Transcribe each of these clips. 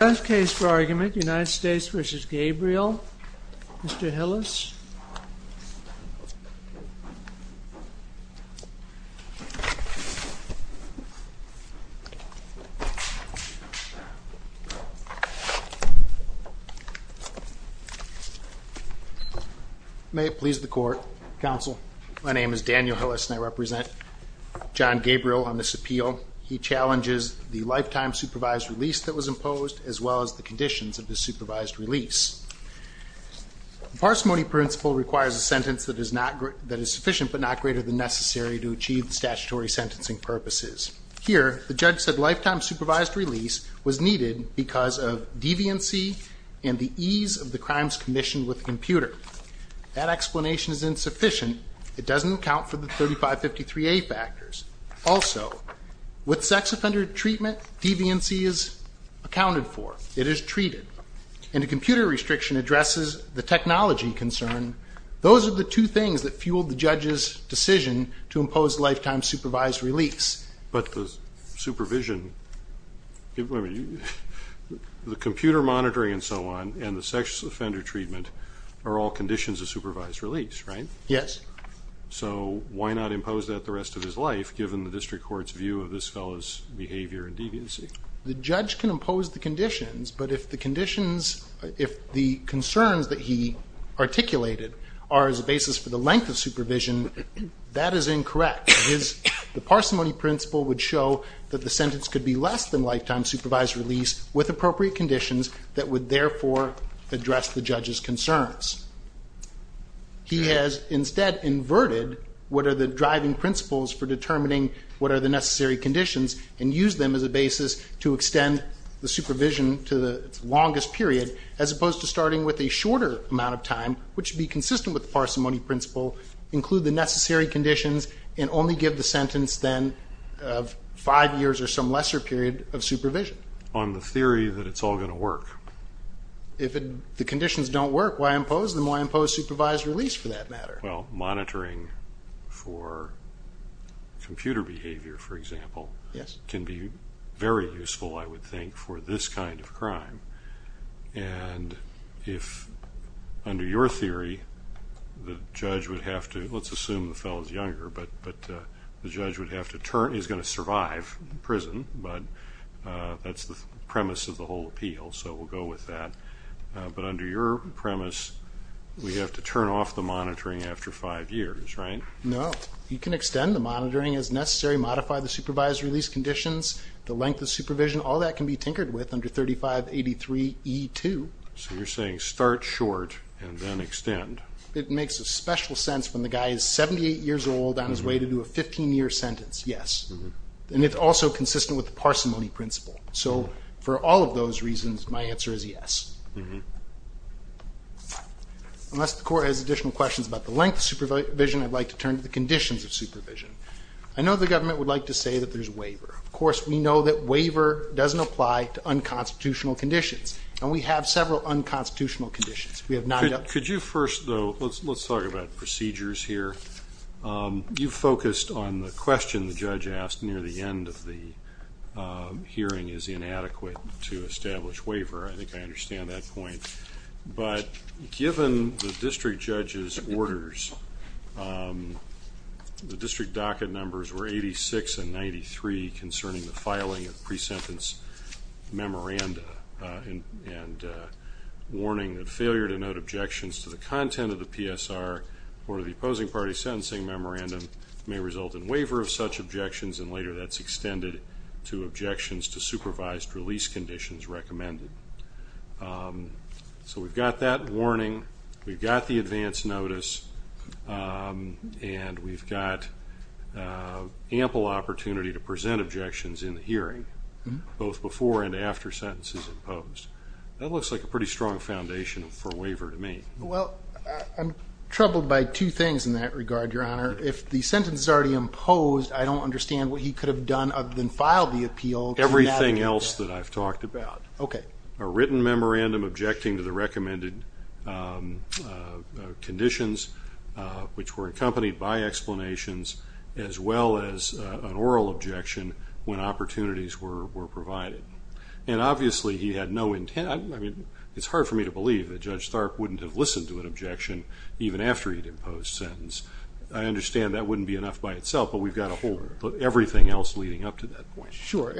Last case for argument, United States v. Gabriel, Mr. Hillis. May it please the court. Counsel. My name is Daniel Hillis and I represent John Gabriel on this appeal. He challenges the lifetime supervised release that was imposed as well as the conditions of the supervised release. The parsimony principle requires a sentence that is sufficient but not greater than necessary to achieve the statutory sentencing purposes. Here, the judge said lifetime supervised release was needed because of deviancy and the ease of the crimes commissioned with the computer. That explanation is insufficient. It doesn't account for the 3553A factors. Also, with sex offender treatment, deviancy is accounted for. It is treated. And a computer restriction addresses the technology concern. Those are the two things that fueled the judge's decision to impose lifetime supervised release. But the supervision, the computer monitoring and so on, and the sex offender treatment are all conditions of supervised release, right? Yes. So why not impose that the rest of his life, given the district court's view of this fellow's behavior and deviancy? The judge can impose the conditions, but if the conditions, if the concerns that he articulated are as a basis for the length of supervision, that is incorrect. The parsimony principle would show that the sentence could be less than lifetime supervised release with appropriate conditions that would therefore address the judge's concerns. He has instead inverted what are the driving principles for determining what are the necessary conditions and use them as a basis to extend the supervision to the longest period, as opposed to starting with a shorter amount of time, which would be consistent with the parsimony principle, include the necessary conditions and only give the sentence then of five years or some lesser period of supervision. On the theory that it's all going to work. If the conditions don't work, why impose them? Why impose supervised release for that matter? Well, monitoring for computer behavior, for example, can be very useful, I would think, for this kind of crime. And if, under your theory, the judge would have to, let's assume the fellow's younger, but the judge would have to turn, is going to survive prison, but that's the premise of the whole appeal, so we'll go with that. But under your premise, we have to turn off the monitoring after five years, right? No. You can extend the monitoring as necessary, modify the supervised release conditions, the length of supervision, all that can be tinkered with under 3583E2. So you're saying start short and then extend. It makes a special sense when the guy is 78 years old on his way to do a 15-year sentence, yes. And it's also consistent with the parsimony principle. So for all of those reasons, my answer is yes. Unless the court has additional questions about the length of supervision, I'd like to turn to the conditions of supervision. I know the government would like to say that there's waiver. Of course, we know that waiver doesn't apply to unconstitutional conditions, and we have several unconstitutional conditions. Could you first, though, let's talk about procedures here. You focused on the question the judge asked near the end of the hearing is inadequate to establish waiver. I think I understand that point. But given the district judge's orders, the district docket numbers were 86 and 93 concerning the filing of pre-sentence memoranda and warning that failure to note objections to the content of the PSR or the opposing party's sentencing memoranda may result in waiver of such objections, and later that's extended to objections to supervised release conditions recommended. So we've got that warning, we've got the advance notice, and we've got ample opportunity to present objections in the hearing, both before and after sentences imposed. That looks like a pretty strong foundation for waiver to me. Well, I'm troubled by two things in that regard, Your Honor. If the sentence is already imposed, I don't understand what he could have done other than file the appeal. Everything else that I've talked about. A written memorandum objecting to the recommended conditions, which were accompanied by explanations, as well as an oral objection when opportunities were provided. And obviously he had no intent. I mean, it's hard for me to believe that Judge Tharp wouldn't have listened to an objection even after he'd imposed a sentence. I understand that wouldn't be enough by itself, but we've got everything else leading up to that point. Sure.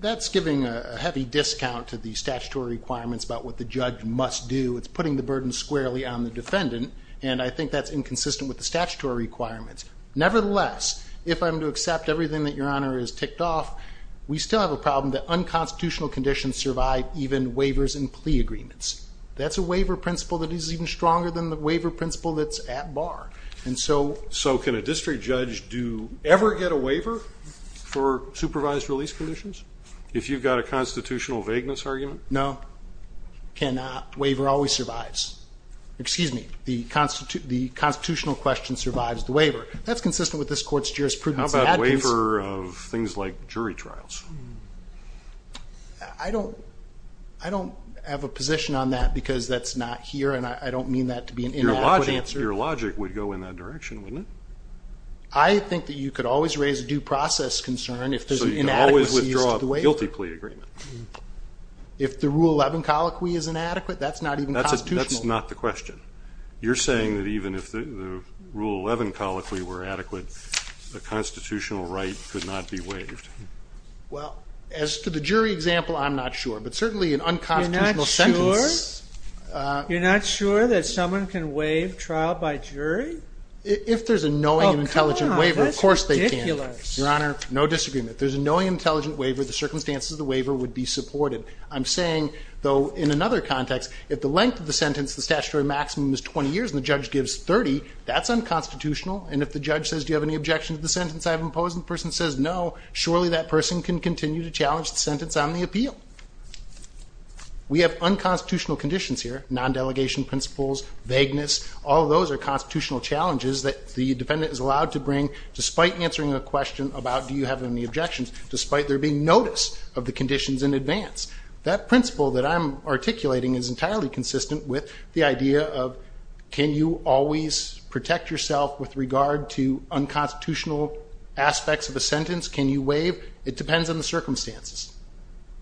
That's giving a heavy discount to the statutory requirements about what the judge must do. It's putting the burden squarely on the defendant, and I think that's inconsistent with the statutory requirements. Nevertheless, if I'm to accept everything that Your Honor has ticked off, we still have a problem that unconstitutional conditions survive even waivers and plea agreements. That's a waiver principle that is even stronger than the waiver principle that's at bar. So can a district judge ever get a waiver for supervised release conditions if you've got a constitutional vagueness argument? No. Waiver always survives. Excuse me. The constitutional question survives the waiver. That's consistent with this court's jurisprudence. How about a waiver of things like jury trials? I don't have a position on that because that's not here, and I don't mean that to be an inadequate answer. Your logic would go in that direction, wouldn't it? I think that you could always raise a due process concern if there's an inadequacy to the waiver. So you can always withdraw a guilty plea agreement. If the Rule 11 colloquy is inadequate, that's not even constitutional. That's not the question. You're saying that even if the Rule 11 colloquy were adequate, the constitutional right could not be waived. Well, as to the jury example, I'm not sure, but certainly an unconstitutional sentence. You're not sure that someone can waive trial by jury? If there's a knowing and intelligent waiver, of course they can. Your Honor, no disagreement. If there's a knowing and intelligent waiver, the circumstances of the waiver would be supported. I'm saying, though, in another context, if the length of the sentence, the statutory maximum is 20 years and the judge gives 30, that's unconstitutional. And if the judge says, do you have any objection to the sentence I've imposed, and the person says no, surely that person can continue to challenge the sentence on the appeal. We have unconstitutional conditions here, non-delegation principles, vagueness. All of those are constitutional challenges that the defendant is allowed to bring despite answering a question about do you have any objections, despite there being notice of the conditions in advance. That principle that I'm articulating is entirely consistent with the idea of can you always protect yourself with regard to unconstitutional aspects of a sentence? Can you waive? It depends on the circumstances.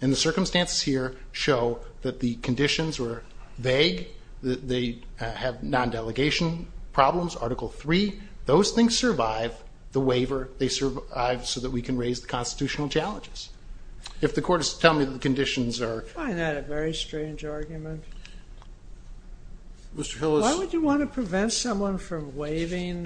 And the circumstances here show that the conditions were vague. They have non-delegation problems, Article III. Those things survive. The waiver, they survive so that we can raise the constitutional challenges. If the court is telling me that the conditions are... I find that a very strange argument. Mr. Hill is... Why would you want to prevent someone from waiving?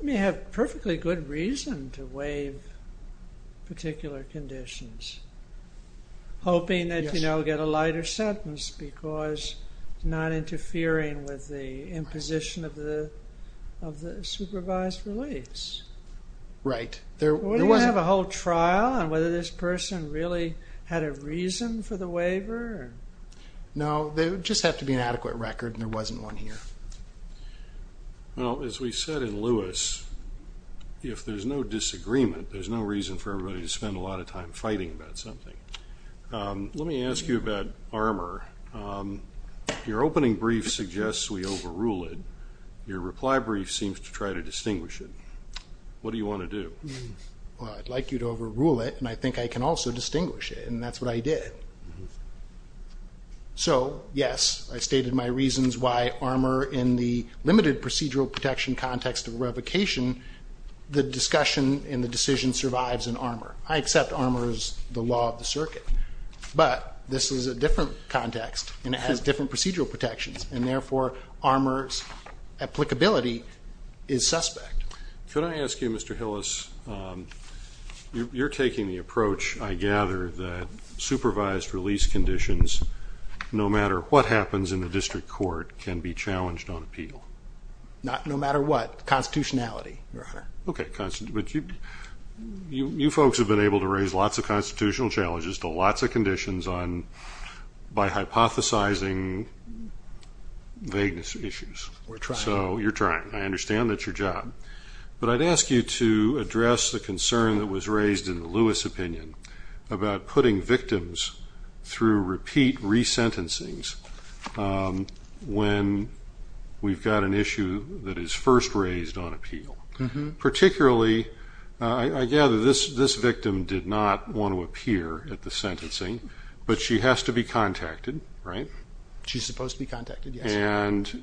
You may have perfectly good reason to waive particular conditions, hoping that you'll get a lighter sentence because it's not interfering with the imposition of the supervised release. Right. Would you have a whole trial on whether this person really had a reason for the waiver? No, there would just have to be an adequate record, and there wasn't one here. Well, as we said in Lewis, if there's no disagreement, there's no reason for everybody to spend a lot of time fighting about something. Let me ask you about Armour. Your opening brief suggests we overrule it. Your reply brief seems to try to distinguish it. What do you want to do? Well, I'd like you to overrule it, and I think I can also distinguish it, and that's what I did. So, yes, I stated my reasons why Armour, in the limited procedural protection context of revocation, the discussion and the decision survives in Armour. I accept Armour as the law of the circuit, but this is a different context, and it has different procedural protections, and therefore Armour's applicability is suspect. Could I ask you, Mr. Hillis, you're taking the approach, I gather, that supervised release conditions, no matter what happens in the district court, can be challenged on appeal. No matter what. Constitutionality, Your Honor. Okay, but you folks have been able to raise lots of constitutional challenges to lots of conditions by hypothesizing vagueness issues. We're trying. So you're trying. I understand that's your job. But I'd ask you to address the concern that was raised in the Lewis opinion about putting victims through repeat resentencings when we've got an issue that is first raised on appeal. Particularly, I gather this victim did not want to appear at the sentencing, but she has to be contacted, right? She's supposed to be contacted, yes. And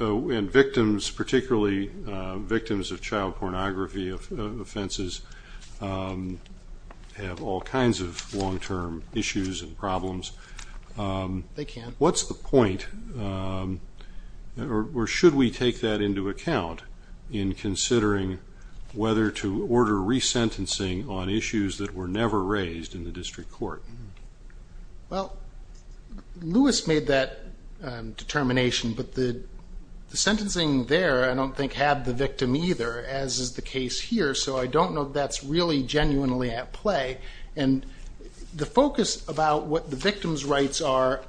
victims, particularly victims of child pornography offenses, have all kinds of long-term issues and problems. They can. What's the point? Or should we take that into account in considering whether to order resentencing on issues that were never raised in the district court? Well, Lewis made that determination, but the sentencing there I don't think had the victim either, as is the case here. So I don't know if that's really genuinely at play. And the focus about what the victim's rights are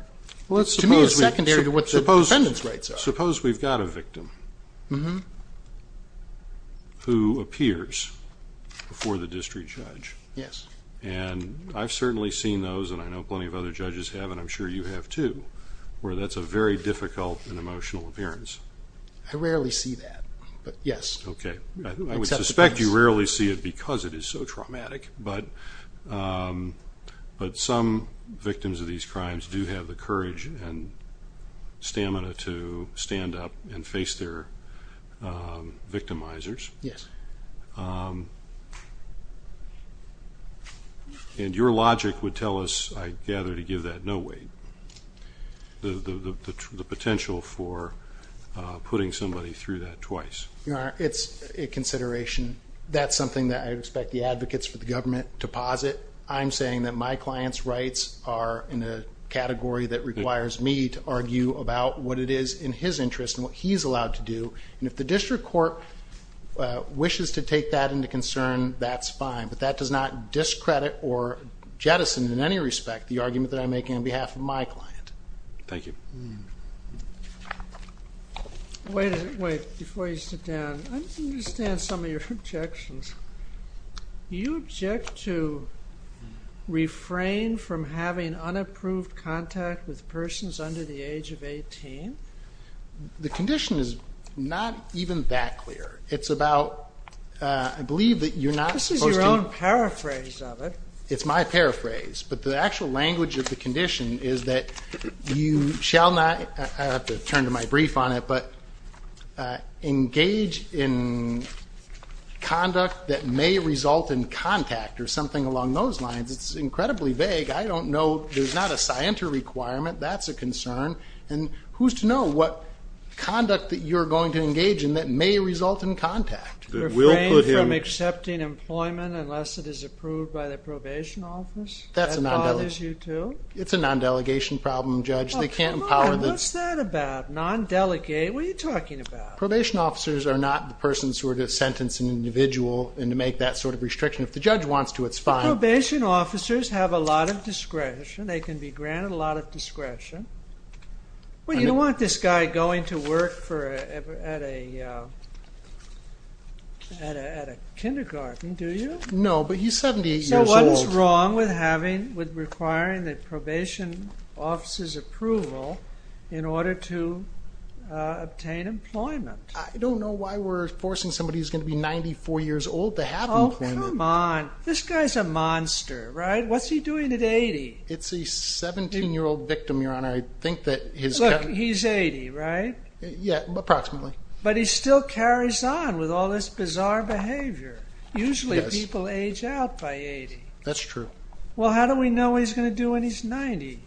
to me is secondary to what the defendant's rights are. Suppose we've got a victim who appears before the district judge. Yes. And I've certainly seen those, and I know plenty of other judges have, and I'm sure you have too, where that's a very difficult and emotional appearance. I rarely see that, but yes. Okay. I would suspect you rarely see it because it is so traumatic, but some victims of these crimes do have the courage and stamina to stand up and face their victimizers. Yes. And your logic would tell us, I gather, to give that no weight, the potential for putting somebody through that twice. It's a consideration. That's something that I would expect the advocates for the government to posit. I'm saying that my client's rights are in a category that requires me to argue about what it is in his interest and what he's allowed to do. And if the district court wishes to take that into concern, that's fine. But that does not discredit or jettison in any respect the argument that I'm making on behalf of my client. Thank you. Wait. Wait. Before you sit down, I understand some of your objections. Do you object to refrain from having unapproved contact with persons under the age of 18? The condition is not even that clear. It's about, I believe that you're not supposed to. This is your own paraphrase of it. It's my paraphrase. But the actual language of the condition is that you shall not, I'll have to turn to my brief on it, but engage in conduct that may result in contact or something along those lines. It's incredibly vague. I don't know. There's not a scienter requirement. That's a concern. And who's to know what conduct that you're going to engage in that may result in contact? Refrain from accepting employment unless it is approved by the probation office? That bothers you too? It's a non-delegation problem, Judge. What's that about? Non-delegate? What are you talking about? Probation officers are not the persons who are to sentence an individual and to make that sort of restriction. If the judge wants to, it's fine. Probation officers have a lot of discretion. They can be granted a lot of discretion. You don't want this guy going to work at a kindergarten, do you? No, but he's 78 years old. So what is wrong with requiring the probation officer's approval in order to obtain employment? I don't know why we're forcing somebody who's going to be 94 years old to have employment. Oh, come on. This guy's a monster, right? What's he doing at 80? It's a 17-year-old victim, Your Honor. Look, he's 80, right? Yeah, approximately. But he still carries on with all this bizarre behavior. Usually people age out by 80. That's true. Well, how do we know what he's going to do when he's 90?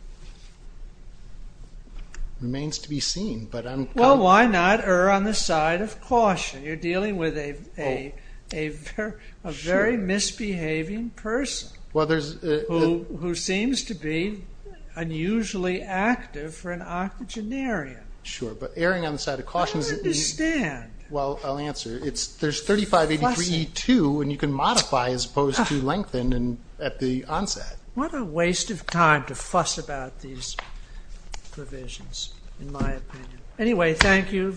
Remains to be seen. Well, why not err on the side of caution? You're dealing with a very misbehaving person. Who seems to be unusually active for an octogenarian. Sure, but erring on the side of caution is easy. I don't understand. Well, I'll answer. There's 3583E2, and you can modify as opposed to lengthen at the onset. What a waste of time to fuss about these provisions, in my opinion. Anyway, thank you.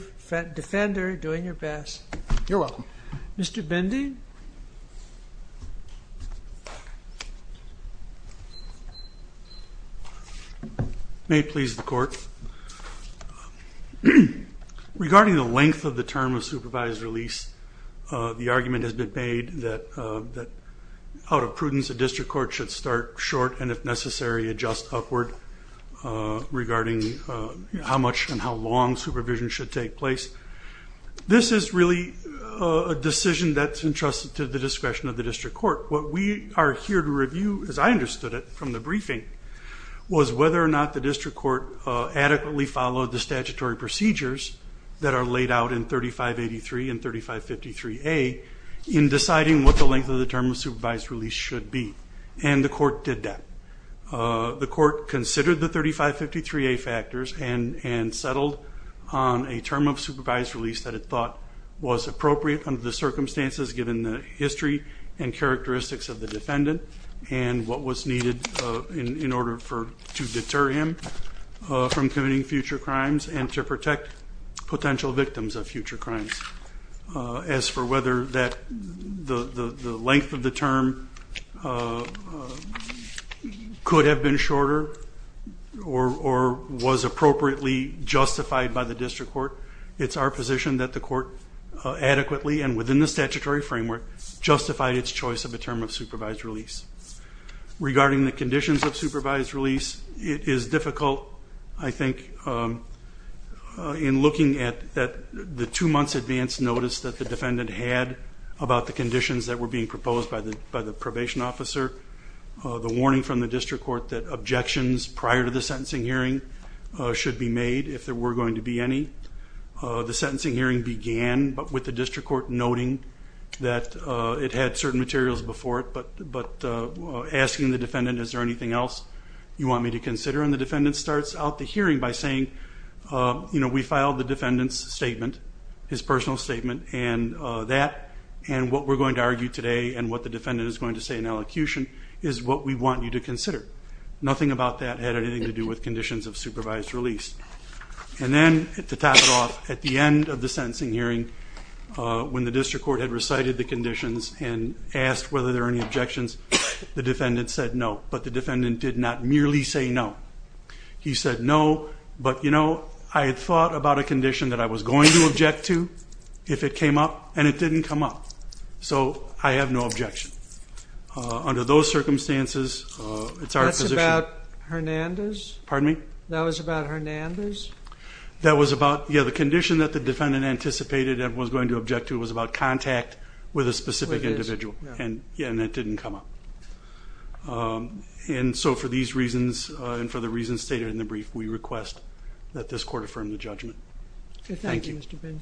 Defender, doing your best. You're welcome. Mr. Bendy? May it please the Court. Regarding the length of the term of supervised release, the argument has been made that out of prudence, a district court should start short and, if necessary, adjust upward, regarding how much and how long supervision should take place. This is really a decision that's entrusted to the discretion of the district court. What we are here to review, as I understood it from the briefing, was whether or not the district court adequately followed the statutory procedures that are laid out in 3583 and 3553A in deciding what the length of the term of supervised release should be, and the court did that. The court considered the 3553A factors and settled on a term of supervised release that it thought was appropriate under the circumstances given the history and characteristics of the defendant and what was needed in order to deter him from committing future crimes and to protect potential victims of future crimes. As for whether the length of the term could have been shorter or was appropriately justified by the district court, it's our position that the court adequately and within the statutory framework justified its choice of a term of supervised release. Regarding the conditions of supervised release, it is difficult, I think, in looking at the two months advance notice that the defendant had about the conditions that were being proposed by the probation officer, the warning from the district court that should be made if there were going to be any. The sentencing hearing began, but with the district court noting that it had certain materials before it, but asking the defendant, is there anything else you want me to consider? And the defendant starts out the hearing by saying, you know, we filed the defendant's statement, his personal statement, and that, and what we're going to argue today and what the defendant is going to say in elocution is what we want you to consider. Nothing about that had anything to do with conditions of supervised release. And then, to top it off, at the end of the sentencing hearing, when the district court had recited the conditions and asked whether there were any objections, the defendant said no, but the defendant did not merely say no. He said no, but, you know, I had thought about a condition that I was going to object to if it came up, and it didn't come up. So I have no objection. Under those circumstances, it's our position. That's about Hernandez? Pardon me? That was about Hernandez? That was about, yeah, the condition that the defendant anticipated and was going to object to was about contact with a specific individual, and that didn't come up. And so, for these reasons and for the reasons stated in the brief, we request that this court affirm the judgment. Thank you, Mr. Benjamin.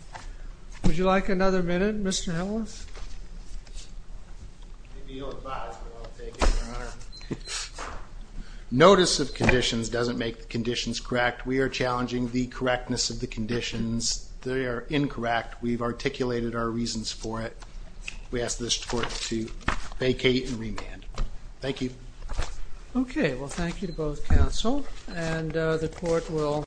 Would you like another minute, Mr. Helmuth? Notice of conditions doesn't make the conditions correct. We are challenging the correctness of the conditions. They are incorrect. We've articulated our reasons for it. We ask this court to vacate and remand. Thank you. Okay. Well, thank you to both counsel. And the court will.